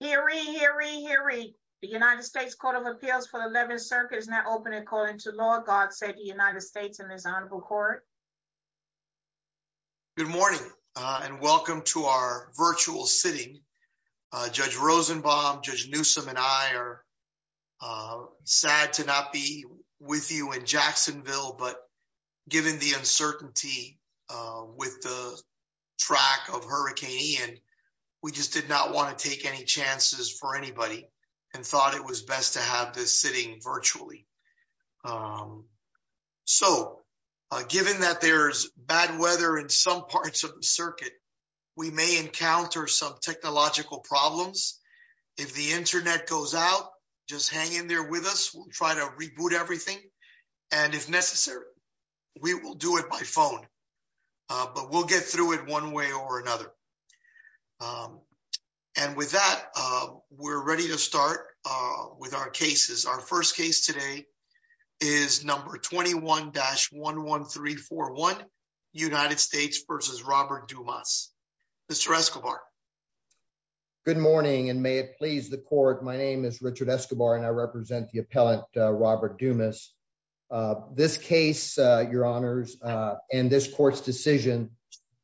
hearing hearing hearing. The United States Court of Appeals for the 11th Circuit is now open and calling to law. God save the United States in this honorable court. Good morning, and welcome to our virtual sitting. Judge Rosenbaum, Judge Newsome and I are sad to not be with you in Jacksonville, but given the uncertainty with the track of Hurricane Ian, we just did not want to take any chances for anybody and thought it was best to have this sitting virtually. So given that there's bad weather in some parts of the circuit, we may encounter some technological problems. If the internet goes out, just hang in there with us. We'll try to reboot everything, and if necessary, we will do it by phone, but we'll get through it one way or another. And with that, we're ready to start with our cases. Our first case today is number 21-11341 United States versus Robert Dumas. Mr. Escobar. Good morning, and may it please the court. My name is Richard Escobar, and I represent the appellant Robert Dumas. This case, your honors, and this court's decision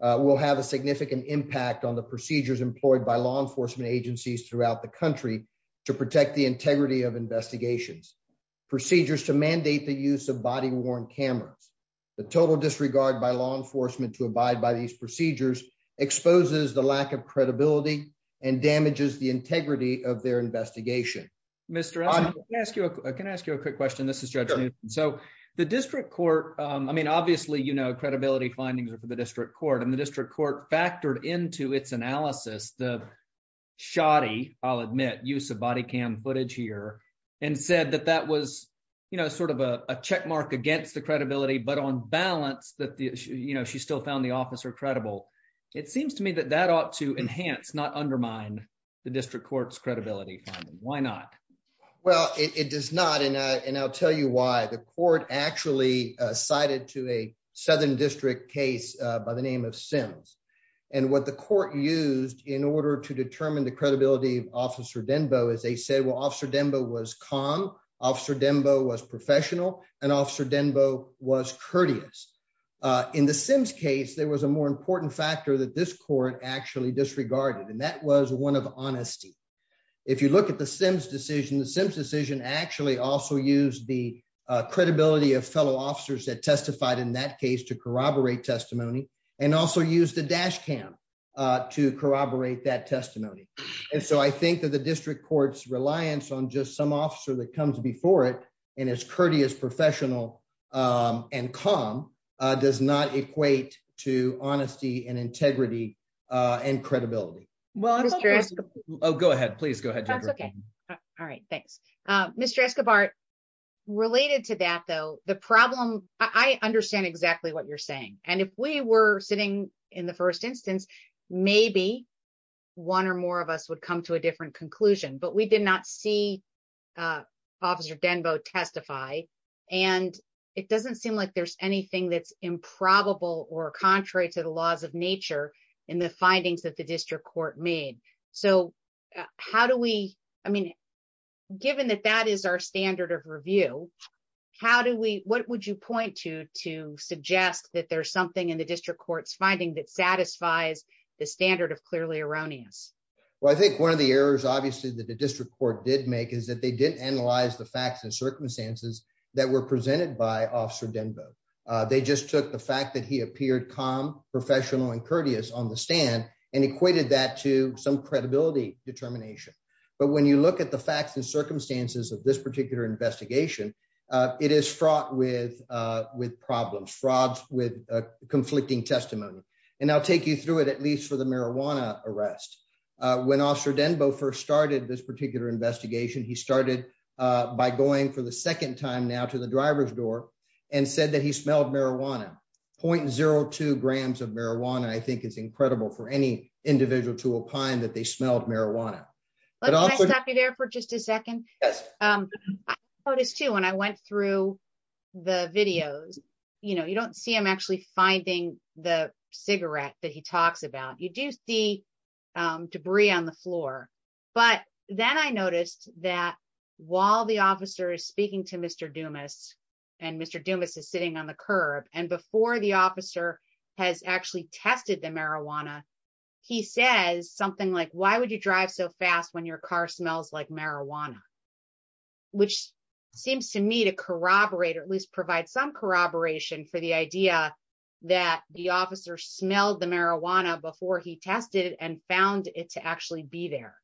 will have a significant impact on the procedures employed by law enforcement agencies throughout the country to protect the integrity of investigations, procedures to mandate the use of body-worn cameras. The total disregard by law enforcement to abide by these procedures exposes the lack of credibility and damages the integrity of their investigation. Mr. Escobar, can I ask you a quick question? This is Judge Newton. So the district court, I mean, obviously, you know, credibility findings are for the district court and the district court factored into its analysis the shoddy, I'll admit, use of body cam footage here and said that that was sort of a checkmark against the credibility, but on balance that she still found the officer credible. It seems to me that that ought to enhance, not undermine the district court's credibility. Why not? Well, it does not. And I'll tell you why. The court actually cited to a southern district case by the name of Sims. And what the court used in order to determine the credibility of Officer Denbo is they said, well, Officer Denbo was calm, Officer Denbo was professional, and Officer Denbo was courteous. In the Sims case, there was a more important factor that this court actually disregarded, and that was one of honesty. If you look at the Sims decision, the Sims decision actually also used the credibility of fellow officers that testified in that case to corroborate testimony and also use the dash cam to corroborate that testimony. And so I think that the district court's reliance on just some officer that comes before it and is courteous, professional and calm does not equate to honesty and integrity and credibility. Well, go ahead, please. Go ahead. That's OK. All right. Thanks, Mr. Escobar. Related to that, though, the problem, I understand exactly what you're saying. And if we were sitting in the first instance, maybe one or more of us would come to a different conclusion. But we did not see Officer Denbo testify. And it doesn't seem like there's anything that's improbable or contrary to the laws of nature in the findings that the district court made. So how do we I mean, given that that is our standard of review, how do we what would you point to to suggest that there's something in the district court's finding that satisfies the standard of clearly erroneous? Well, I think one of the errors, obviously, that the district court did make is that they didn't analyze the facts and circumstances that were presented by Officer Denbo. They just took the fact that he appeared calm, professional and courteous on the stand and equated that to some credibility determination. But when you look at the facts and circumstances of this particular investigation, it is fraught with with problems, frauds with conflicting testimony. And I'll take you through it, at least for the marijuana arrest. When Officer Denbo first started this particular investigation, he started by going for the second time now to the driver's door and said that he smelled marijuana, 0.02 grams of marijuana. I think it's incredible for any individual to opine that they smelled marijuana. Let me stop you there for just a second. Yes. I noticed, too, when I went through the videos, you know, you don't see him actually finding the cigarette that he talks about. You do see debris on the floor. But then I noticed that while the officer is speaking to Mr. Dumas and Mr. Officer has actually tested the marijuana, he says something like, why would you drive so fast when your car smells like marijuana? Which seems to me to corroborate or at least provide some corroboration for the idea that the officer smelled the marijuana before he tested and found it to actually be there.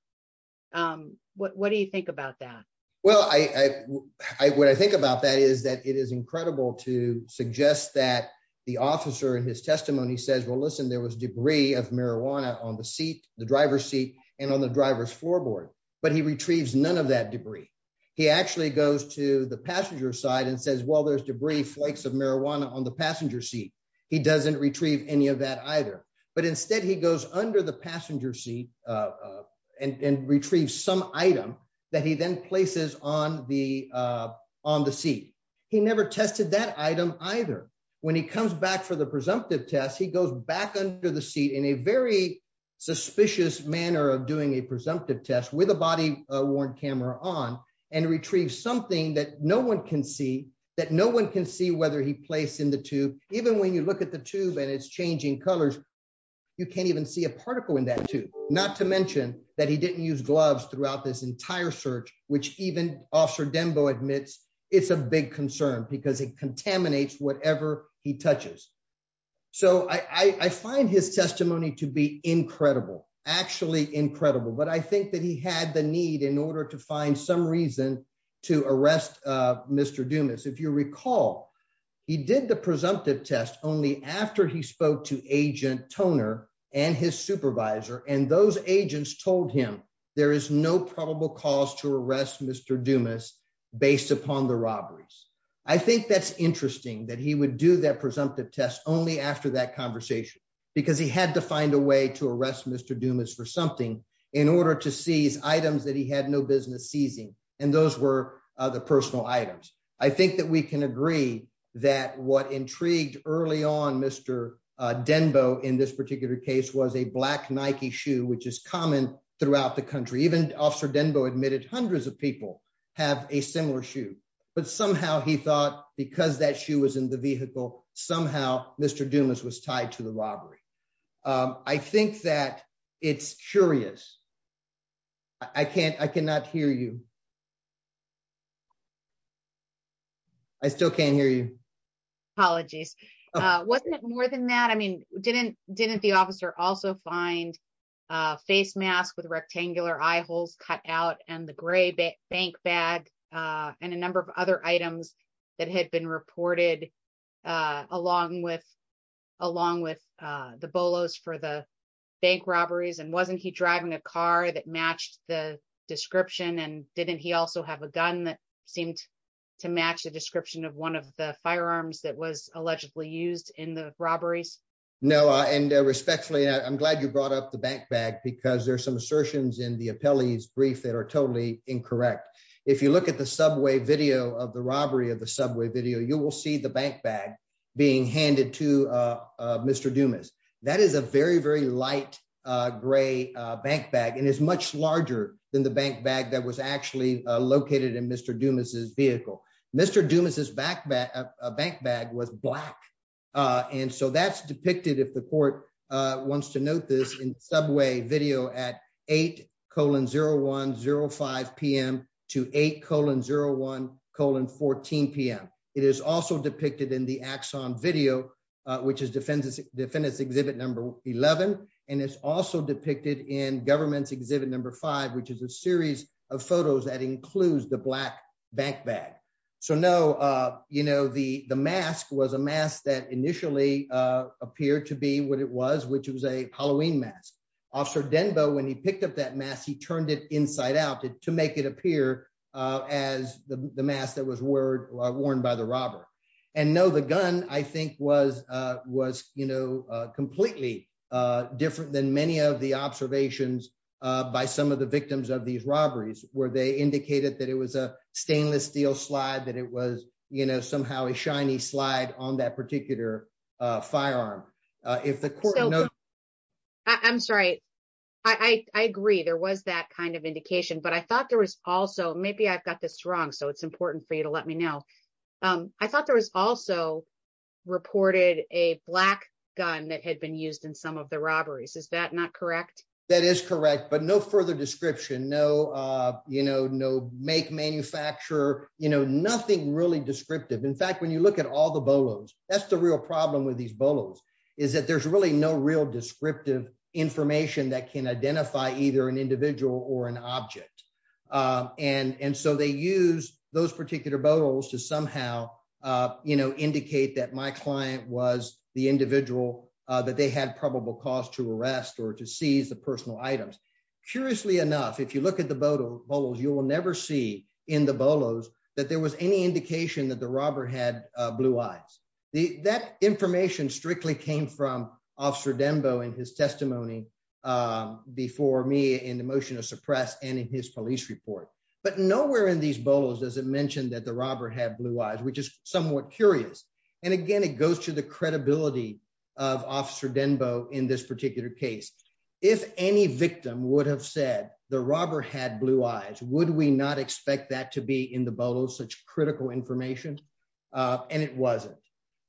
What do you think about that? Well, I what I think about that is that it is incredible to suggest that the officer in his testimony says, well, listen, there was debris of marijuana on the seat, the driver's seat and on the driver's floorboard. But he retrieves none of that debris. He actually goes to the passenger side and says, well, there's debris, flakes of marijuana on the passenger seat. He doesn't retrieve any of that either. But instead, he goes under the passenger seat and retrieves some item that he then places on the on the seat. He never tested that item either. When he comes back for the presumptive test, he goes back under the seat in a very suspicious manner of doing a presumptive test with a body worn camera on and retrieve something that no one can see, that no one can see whether he placed in the tube. Even when you look at the tube and it's changing colors, you can't even see a particle in that tube, not to mention that he didn't use gloves throughout this entire search, which even Officer Dembo admits it's a big concern because it contaminates whatever he touches. So I find his testimony to be incredible, actually incredible. But I think that he had the need in order to find some reason to arrest Mr. Dumas. If you recall, he did the presumptive test only after he spoke to Agent Toner and his supervisor. And those agents told him there is no probable cause to arrest Mr. Dumas based upon the robberies. I think that's interesting that he would do that presumptive test only after that conversation because he had to find a way to arrest Mr. Dumas for something in order to seize items that he had no business seizing. And those were the personal items. I think that we can agree that what intrigued early on Mr. Dembo in this particular case was a black Nike shoe, which is common throughout the country. Even Officer Dembo admitted hundreds of people have a similar shoe. But somehow he thought because that shoe was in the vehicle, somehow Mr. Dumas was tied to the robbery. I think that it's curious. I can't I cannot hear you. I still can't hear you. Apologies. Wasn't it more than that? I mean, didn't didn't the officer also find a face mask with rectangular eye holes cut out and the gray bank bag and a number of other items that had been reported along with along with the bolos for the bank robberies? And wasn't he driving a car that matched the description? And didn't he also have a gun that seemed to match the description of one of the firearms that was allegedly used in the robberies? No. And respectfully, I'm glad you brought up the bank bag because there are some assertions in the appellee's brief that are totally incorrect. If you look at the subway video of the robbery of the subway video, you will see the bank bag being handed to Mr. Dumas. That is a very, very light gray bank bag and is much larger than the bank bag that was actually located in Mr. Dumas's vehicle. Mr. Dumas's bank bag was black. And so that's depicted, if the court wants to note this in subway video at eight colon zero one zero five p.m. to eight colon zero one colon fourteen p.m. It is also depicted in the axon video, which is Defendants Defendants Exhibit number eleven. And it's also depicted in government's exhibit number five, which is a series of photos that includes the black bank bag. So, no, you know, the the mask was a mask that initially appeared to be what it was, which was a Halloween mask. Officer Denbo, when he picked up that mask, he turned it inside out to make it appear as the mask that was word worn by the robber. And no, the gun, I think, was was, you know, completely different than many of the observations by some of the victims of these robberies, where they indicated that it was a stainless steel slide, that it was somehow a shiny slide on that particular firearm. If the court. I'm sorry, I agree, there was that kind of indication, but I thought there was also maybe I've got this wrong, so it's important for you to let me know. I thought there was also reported a black gun that had been used in some of the robberies. Is that not correct? That is correct. But no further description. No, you know, no make manufacturer, you know, nothing really descriptive. In fact, when you look at all the bolos, that's the real problem with these bolos. Is that there's really no real descriptive information that can identify either an individual or an object. And so they use those particular bolos to somehow, you know, indicate that my client was the individual that they had probable cause to arrest or to seize the personal items. Curiously enough, if you look at the bolos, you will never see in the bolos that there was any indication that the robber had blue eyes. That information strictly came from Officer Denbo in his testimony before me in the motion to suppress and in his police report. But nowhere in these bolos does it mention that the robber had blue eyes, which is somewhat curious. And again, it goes to the credibility of Officer Denbo in this particular case. If any victim would have said the robber had blue eyes, would we not expect that to be in the bolos such critical information? And it wasn't.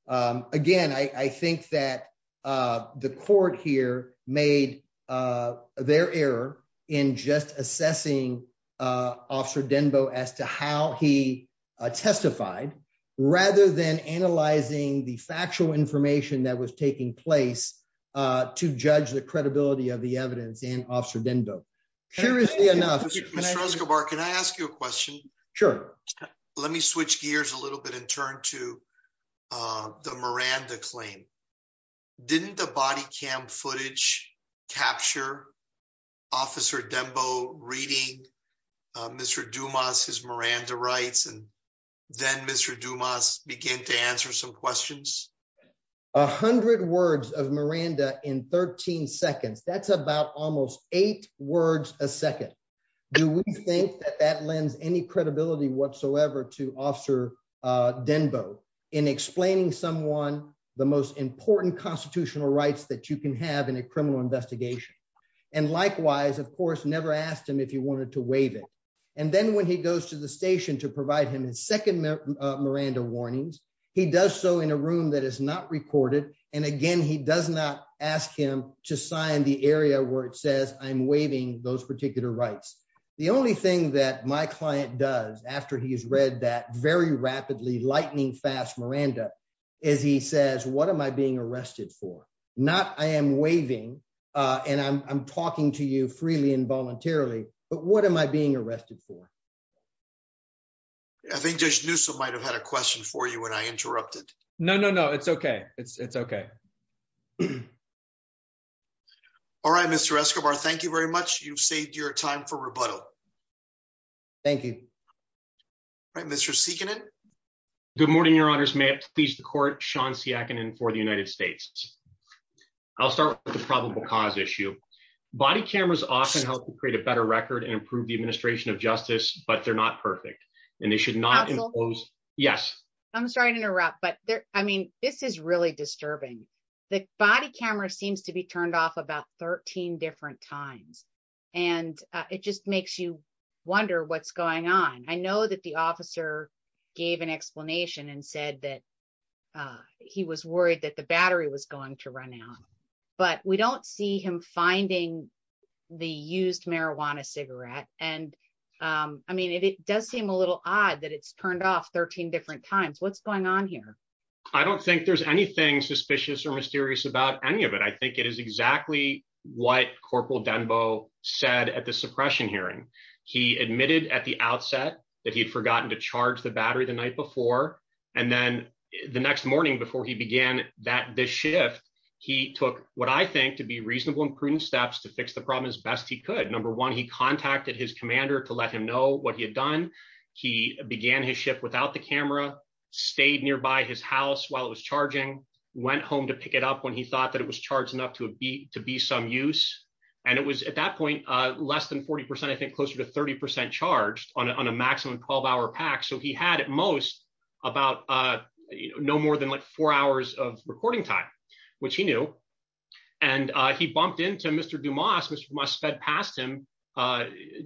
Again, I think that the court here made their error in just assessing Officer Denbo as to how he testified, rather than analyzing the factual information that was taking place to judge the credibility of the evidence in Officer Denbo. Curiously enough, Mr. Escobar, can I ask you a question? Sure. Let me switch gears a little bit and turn to the Miranda claim. Didn't the body cam footage capture Officer Denbo reading Mr. Dumas, his Miranda rights, and then Mr. Dumas began to answer some questions? A hundred words of Miranda in 13 seconds. That's about almost eight words a second. Do we think that that lends any credibility whatsoever to Officer Denbo in explaining someone the most important constitutional rights that you can have in a criminal investigation? And likewise, of course, never asked him if he wanted to waive it. And then when he goes to the station to provide him his second Miranda warnings, he does so in a room that is not recorded. And again, he does not ask him to sign the area where it says I'm waiving those particular rights. The only thing that my client does after he's read that very rapidly, lightning fast Miranda, is he says, what am I being arrested for? Not I am waiving and I'm talking to you freely and voluntarily, but what am I being arrested for? I think Judge Newsom might have had a question for you when I interrupted. No, no, no. It's OK. It's OK. All right, Mr. Escobar, thank you very much. You've saved your time for rebuttal. Thank you. All right, Mr. Sikkanen. Good morning, Your Honors. May it please the court, Sean Siakkanen for the United States. I'll start with the probable cause issue. Body cameras often help to create a better record and improve the administration of justice. But they're not perfect and they should not impose. Yes, I'm sorry to interrupt, but I mean, this is really disturbing. The body camera seems to be turned off about 13 different times. And it just makes you wonder what's going on. I know that the officer gave an explanation and said that he was worried that the battery was going to run out. But we don't see him finding the used marijuana cigarette. And I mean, it does seem a little odd that it's turned off 13 different times. What's going on here? I don't think there's anything suspicious or mysterious about any of it. I think it is exactly what Corporal Denbo said at the suppression hearing. He admitted at the outset that he had forgotten to charge the battery the night before. And then the next morning before he began that shift, he took what I think to be reasonable and prudent steps to fix the problem as best he could. Number one, he contacted his commander to let him know what he had done. He began his shift without the camera, stayed nearby his house while it was charging, went home to pick it up when he thought that it was charged enough to be to be some use. And it was at that point less than 40 percent, I think closer to 30 percent charged on a maximum 12 hour pack. So he had at most about no more than like four hours of recording time, which he knew. And he bumped into Mr. Dumas, which must sped past him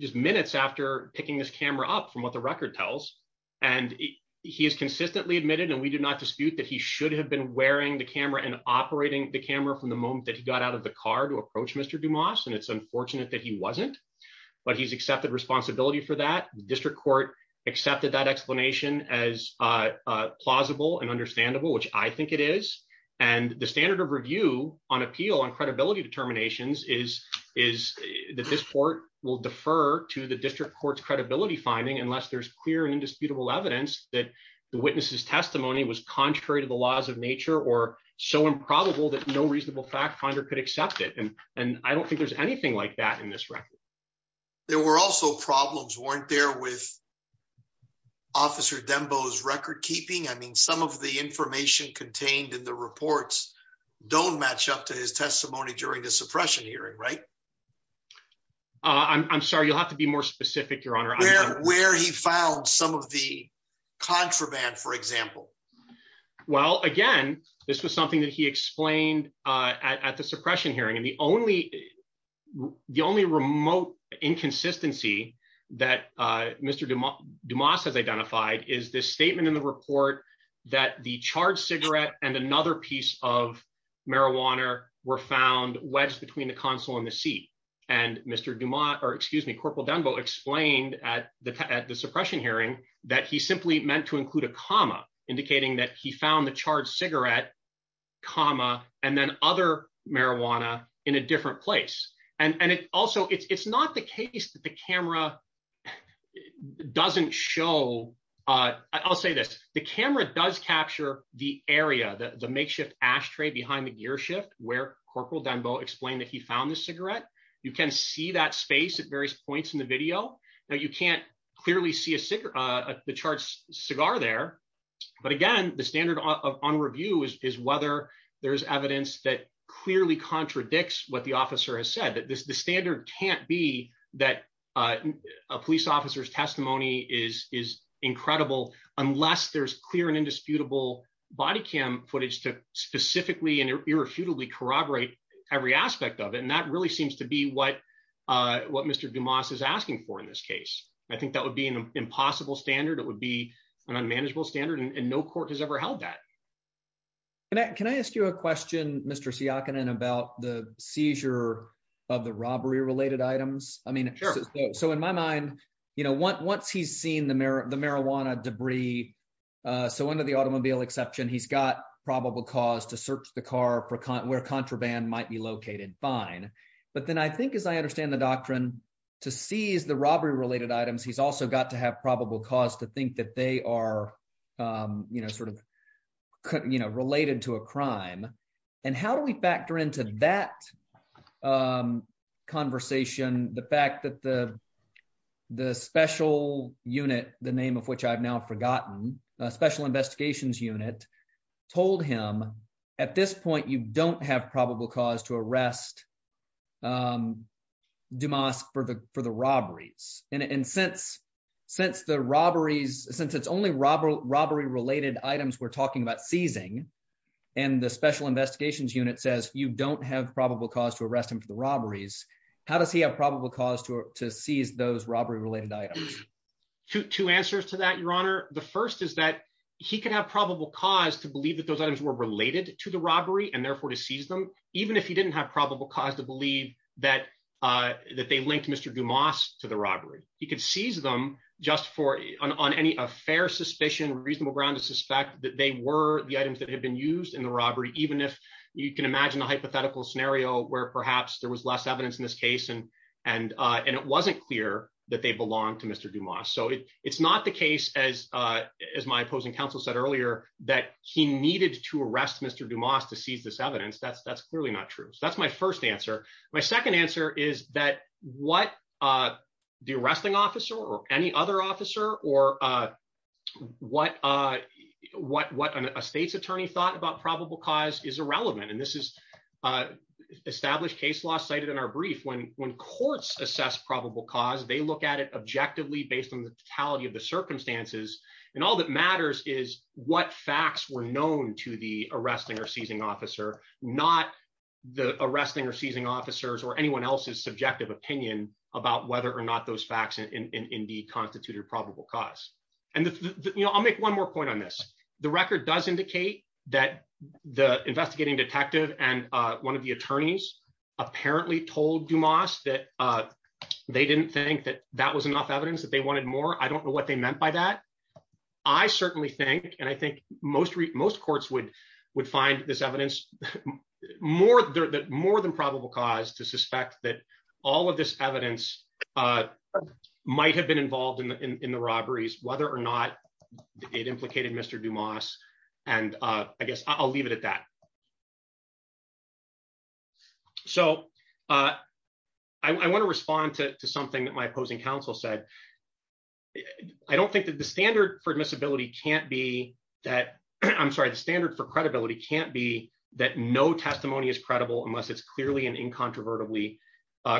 just minutes after picking this camera up from what the record tells. And he has consistently admitted and we do not dispute that he should have been wearing the camera and operating the camera from the moment that he got out of the car to approach Mr. Dumas. And it's unfortunate that he wasn't, but he's accepted responsibility for that. The district court accepted that explanation as plausible and understandable, which I think it is. And the standard of review on appeal on credibility determinations is is that this court will defer to the district court's credibility finding unless there's clear and indisputable evidence that the witness's testimony was contrary to the laws of nature or so improbable that no reasonable fact finder could accept it. And I don't think there's anything like that in this record. There were also problems weren't there with. Officer Dembo's record keeping, I mean, some of the information contained in the reports don't match up to his testimony during the suppression hearing, right? I'm sorry, you'll have to be more specific, your honor. Where he found some of the contraband, for example. Well, again, this was something that he explained at the suppression hearing. And the only the only remote inconsistency that Mr. Dumas has identified is this statement in the report that the charged cigarette and another piece of marijuana were found wedged between the console and the seat. And Mr. Dumas or excuse me, Corporal Dembo explained at the at the suppression hearing that he simply meant to include a comma indicating that he found the charged cigarette comma and then other marijuana in a different place. And also, it's not the case that the camera doesn't show. I'll say this. The camera does capture the area, the makeshift ashtray behind the gear shift where Corporal Dembo explained that he found the cigarette. You can see that space at various points in the video. Now, you can't clearly see a cigarette, the charged cigar there. But again, the standard on review is whether there is evidence that clearly contradicts what the officer has said. That the standard can't be that a police officer's testimony is is incredible unless there's clear and indisputable body cam footage to specifically and irrefutably corroborate every aspect of it. And that really seems to be what what Mr. Dumas is asking for in this case. I think that would be an impossible standard. It would be an unmanageable standard. And no court has ever held that. And can I ask you a question, Mr. Siakonen, about the seizure of the robbery related items? I mean, so in my mind, you know, once he's seen the marijuana debris, so under the automobile exception, he's got probable cause to search the car where contraband might be located. Fine. But then I think, as I understand the doctrine, to seize the robbery related items, he's also got to have probable cause to think that they are, you know, sort of related to a crime. And how do we factor into that conversation the fact that the special unit, the name of which I've now forgotten, special investigations unit told him at this point, you don't have probable cause to arrest Dumas for the for the robberies. And since since the robberies, since it's only robbery, robbery related items, we're talking about seizing and the special investigations unit says you don't have probable cause to arrest him for the robberies. How does he have probable cause to to seize those robbery related items? Two answers to that, Your Honor. The first is that he could have probable cause to believe that those items were related to the robbery and therefore to seize them, even if he didn't have probable cause to believe that that they linked Mr. Dumas to the robbery. He could seize them just for on any fair suspicion, reasonable ground to suspect that they were the items that had been used in the robbery. Even if you can imagine a hypothetical scenario where perhaps there was less evidence in this case and and and it wasn't clear that they belonged to Mr. Dumas. So it's not the case, as as my opposing counsel said earlier, that he needed to arrest Mr. Dumas to seize this evidence. That's that's clearly not true. That's my first answer. My second answer is that what the arresting officer or any other officer or what what what a state's attorney thought about probable cause is irrelevant. And this is established case law cited in our brief. When when courts assess probable cause, they look at it objectively based on the totality of the circumstances. And all that matters is what facts were known to the arresting or seizing officer, not the arresting or seizing officers or anyone else's subjective opinion about whether or not those facts in the constituted probable cause. And I'll make one more point on this. The record does indicate that the investigating detective and one of the attorneys apparently told Dumas that they didn't think that that was enough evidence, that they wanted more. I don't know what they meant by that. I certainly think and I think most most courts would would find this evidence more that more than probable cause to suspect that all of this evidence might have been involved in the robberies, whether or not it implicated Mr. Dumas. And I guess I'll leave it at that. So I want to respond to something that my opposing counsel said. I don't think that the standard for admissibility can't be that I'm sorry, the standard for credibility can't be that no testimony is credible unless it's clearly and incontrovertibly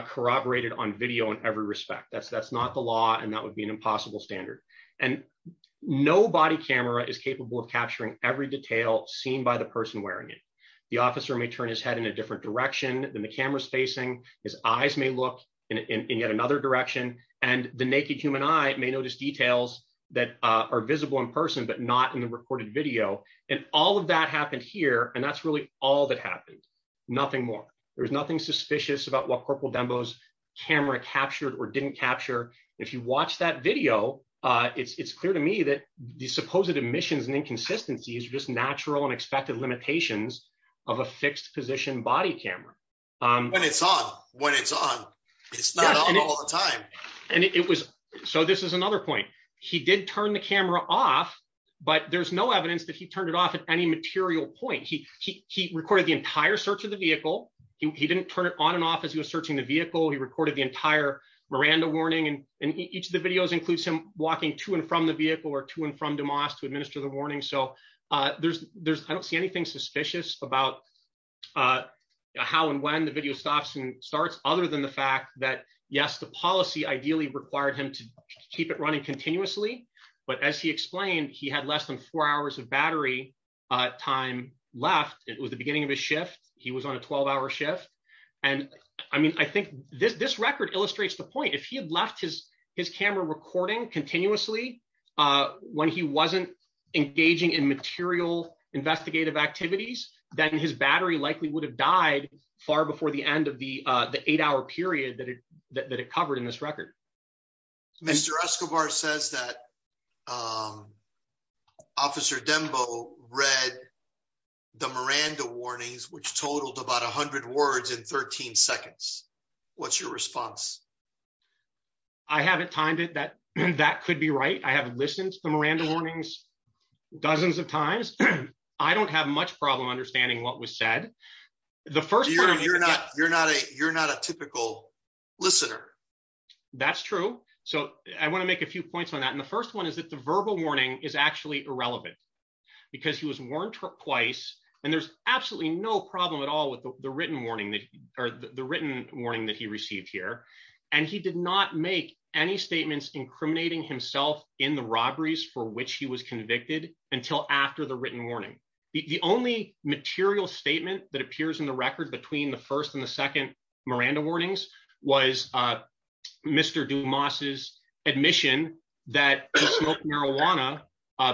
corroborated on video in every respect, that's that's not the law. And that would be an impossible standard. And no body camera is capable of capturing every detail seen by the person wearing it. The officer may turn his head in a different direction than the camera's facing, his eyes may look in yet another direction. And the naked human eye may notice details that are visible in person, but not in the recorded video. And all of that happened here. And that's really all that happened. Nothing more. There was nothing suspicious about what Corporal Dembo's camera captured or didn't capture. If you watch that video, it's clear to me that the supposed omissions and inconsistencies are just natural and expected limitations of a fixed position body camera when it's on, when it's on. It's not all the time. And it was so this is another point. He did turn the camera off, but there's no evidence that he turned it off. At any material point, he he recorded the entire search of the vehicle. He didn't turn it on and off as he was searching the vehicle. He recorded the entire Miranda warning and each of the videos includes him walking to and from the vehicle or to and from DeMoss to administer the warning. So there's there's I don't see anything suspicious about how and when the video stops and starts. Other than the fact that, yes, the policy ideally required him to keep it running continuously. But as he explained, he had less than four hours of battery time left. It was the beginning of a shift. He was on a 12 hour shift. And I mean, I think this this record illustrates the point. If he had left his his camera recording continuously when he wasn't engaging in material investigative activities, then his battery likely would have died far before the end of the eight hour period that it that it covered in this record, Mr. Escobar says that Officer Dembo read the Miranda warnings, which totaled about 100 words in 13 seconds. What's your response? I haven't timed it that that could be right. I haven't listened to the Miranda warnings dozens of times. I don't have much problem understanding what was said. The first you're not you're not a you're not a typical listener. That's true. So I want to make a few points on that. And the first one is that the verbal warning is actually irrelevant because he was warned twice. And there's absolutely no problem at all with the written warning or the written warning that he received here. And he did not make any statements incriminating himself in the robberies for which he was convicted until after the written warning, the only material statement that appears in the record between the first and the second Miranda warnings was Mr. Dumas's admission that he smoked marijuana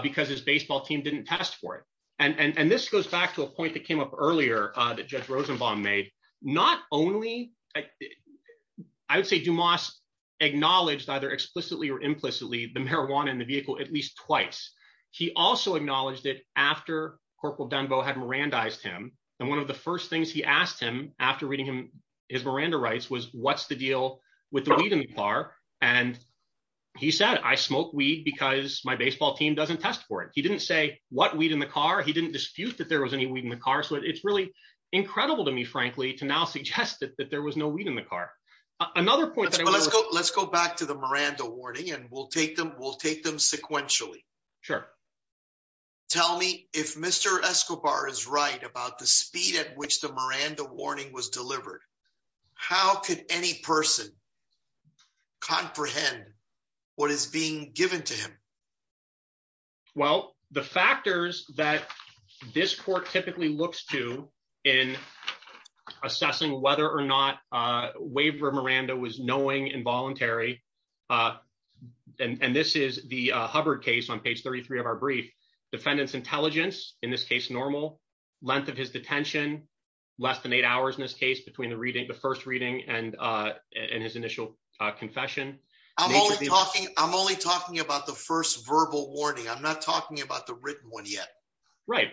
because his baseball team didn't test for it. And this goes back to a point that came up earlier that Judge Rosenbaum made not only I would say Dumas acknowledged either explicitly or implicitly the marijuana in the vehicle at least twice. He also acknowledged it after Corporal Dembo had Miranda eyes to him. And one of the first things he asked him after reading his Miranda rights was, what's the deal with the weed in the car? And he said, I smoke weed because my baseball team doesn't test for it. He didn't say what weed in the car. He didn't dispute that there was any weed in the car. So it's really incredible to me, frankly, to now suggest that there was no weed in the car. Another point, let's go back to the Miranda warning and we'll take them sequentially. Sure. Tell me if Mr. Escobar is right about the speed at which the Miranda warning was delivered. How could any person comprehend what is being given to him? Well, the factors that this court typically looks to in assessing whether or not Waver Miranda was knowing involuntary, and this is the Hubbard case on page 33 of our brief, defendant's intelligence, in this case, normal length of his detention, less than eight hours in this case between the reading, the first reading and in his initial confession. I'm only talking I'm only talking about the first verbal warning. I'm not talking about the written one yet. Right.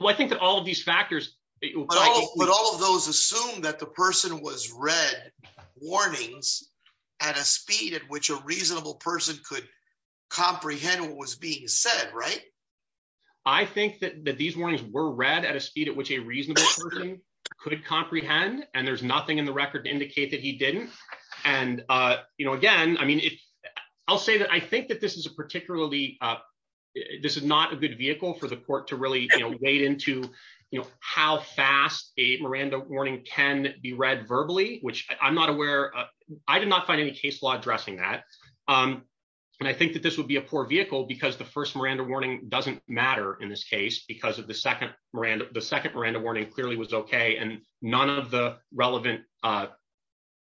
Well, I think that all of these factors, but all of those assume that the person was read warnings at a speed at which a reasonable person could comprehend what was being said. Right. I think that these warnings were read at a speed at which a reasonable person could comprehend, and there's nothing in the record to indicate that he didn't. And, you know, again, I mean, I'll say that I think that this is a particularly this is not a good vehicle for the court to really wade into, you know, how fast a Miranda warning can be read verbally, which I'm not aware. I did not find any case law addressing that. And I think that this would be a poor vehicle because the first Miranda warning doesn't matter in this case because of the second Miranda, the second Miranda warning clearly was OK. And none of the relevant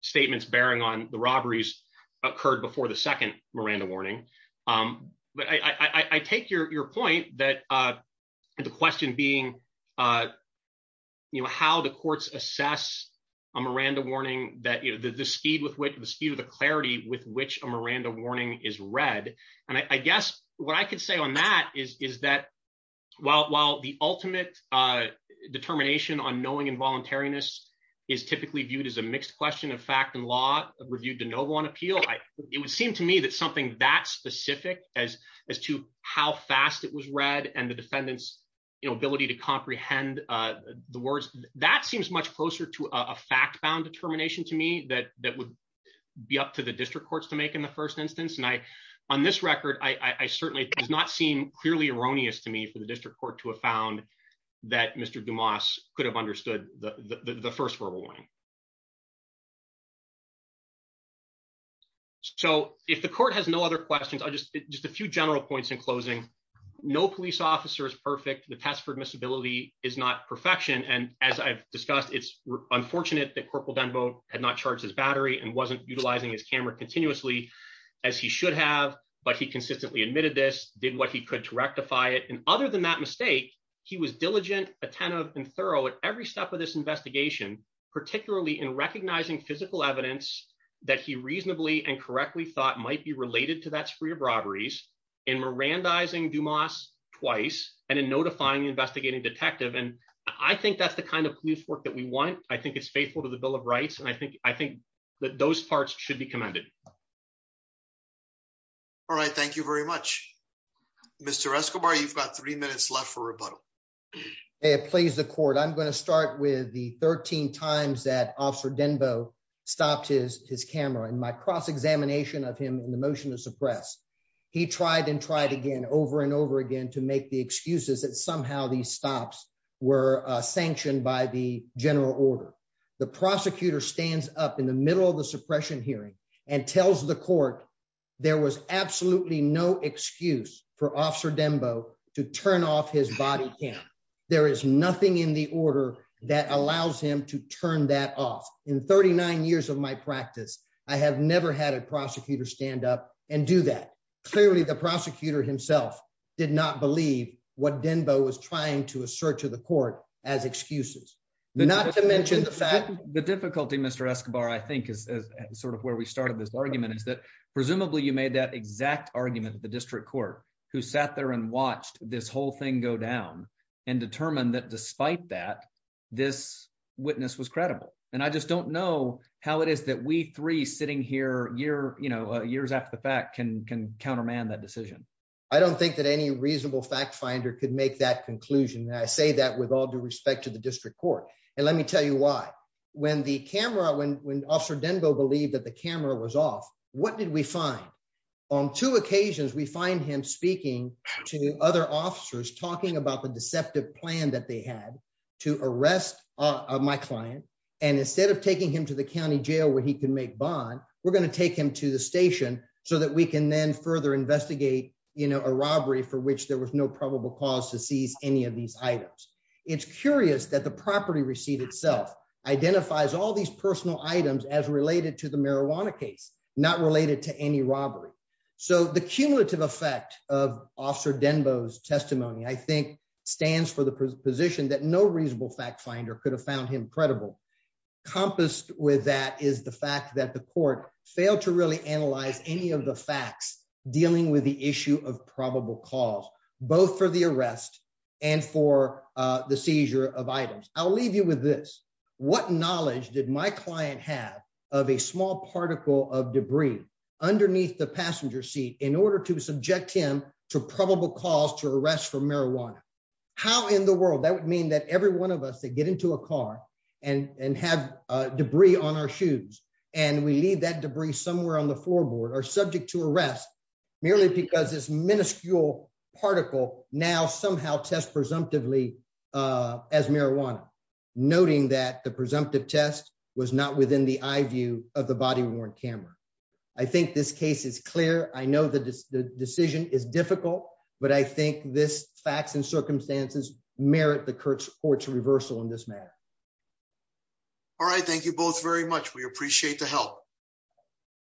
statements bearing on the robberies occurred before the second Miranda warning. But I take your point that the question being, you know, how the courts assess a Miranda warning, that the speed with which the speed of the clarity with which a Miranda warning is read. And I guess what I could say on that is that while the ultimate determination on knowing involuntariness is typically viewed as a mixed question of fact and law reviewed to no one appeal, it would seem to me that something that specific as as to how fast it was read and the defendant's ability to comprehend the words, that seems much closer to a fact bound determination to me that that would be up to the district courts to make in the first instance. And I on this record, I certainly does not seem clearly erroneous to me for the district court to have found that Mr. Dumas could have understood the first verbal warning. So if the court has no other questions, I'll just just a few general points in closing. No police officer is perfect. The test for admissibility is not perfection. And as I've discussed, it's unfortunate that Corporal Dunbow had not charged his battery and wasn't utilizing his camera continuously as he should have. But he consistently admitted this, did what he could to rectify it. And other than that mistake, he was diligent, attentive and thorough at every step of this investigation, particularly in recognizing physical evidence that he reasonably and correctly thought might be related to that spree of robberies in Mirandizing Dumas twice and in notifying the investigating detective. And I think that's the kind of police work that we want. I think it's faithful to the Bill of Rights. And I think I think that those parts should be commended. All right, thank you very much, Mr. Escobar, you've got three minutes left for rebuttal. It plays the court. I'm going to start with the 13 times that Officer Dunbow stopped his camera and my cross examination of him in the motion to suppress. He tried and tried again over and over again to make the excuses that somehow these stops were sanctioned by the general order, the prosecutor stands up in the middle of the suppression hearing and tells the court there was absolutely no excuse for Officer Dunbow to turn off his body cam. There is nothing in the order that allows him to turn that off. In 39 years of my practice, I have never had a prosecutor stand up and do that. Clearly, the prosecutor himself did not believe what Dunbow was trying to assert to the court as excuses, not to mention the fact the difficulty, Mr. Escobar, I think is sort of where we started. This argument is that presumably you made that exact argument, the district court, who sat there and watched this whole thing go down and determined that despite that, this witness was credible. And I just don't know how it is that we three sitting here years after the fact can counterman that decision. I don't think that any reasonable fact finder could make that conclusion. I say that with all due respect to the district court. And let me tell you why. When the camera when Officer Dunbow believed that the camera was off, what did we find on two occasions? We find him speaking to other officers talking about the deceptive plan that they had to arrest my client and instead of taking him to the county jail where he could make bond, we're going to take him to the station so that we can then further investigate a robbery for which there was no probable cause to seize any of these items. It's curious that the property receipt itself identifies all these personal items as related to the marijuana case, not related to any robbery. So the cumulative effect of Officer Dunbow's testimony, I think, stands for the position that no reasonable fact finder could have found him credible. Composed with that is the fact that the court failed to really analyze any of the facts dealing with the issue of probable cause, both for the arrest and for the seizure of items, I'll leave you with this. What knowledge did my client have of a small particle of debris underneath the passenger seat in order to subject him to probable cause to arrest for marijuana? How in the world that would mean that every one of us that get into a car and and have debris on our shoes and we leave that debris somewhere on the floorboard are subject to arrest merely because this minuscule particle now somehow test presumptively as marijuana, noting that the presumptive test was not within the eye view of the body worn camera. I think this case is clear. I know the decision is difficult, but I think this facts and circumstances merit the court's court's reversal in this matter. All right, thank you both very much. We appreciate the help.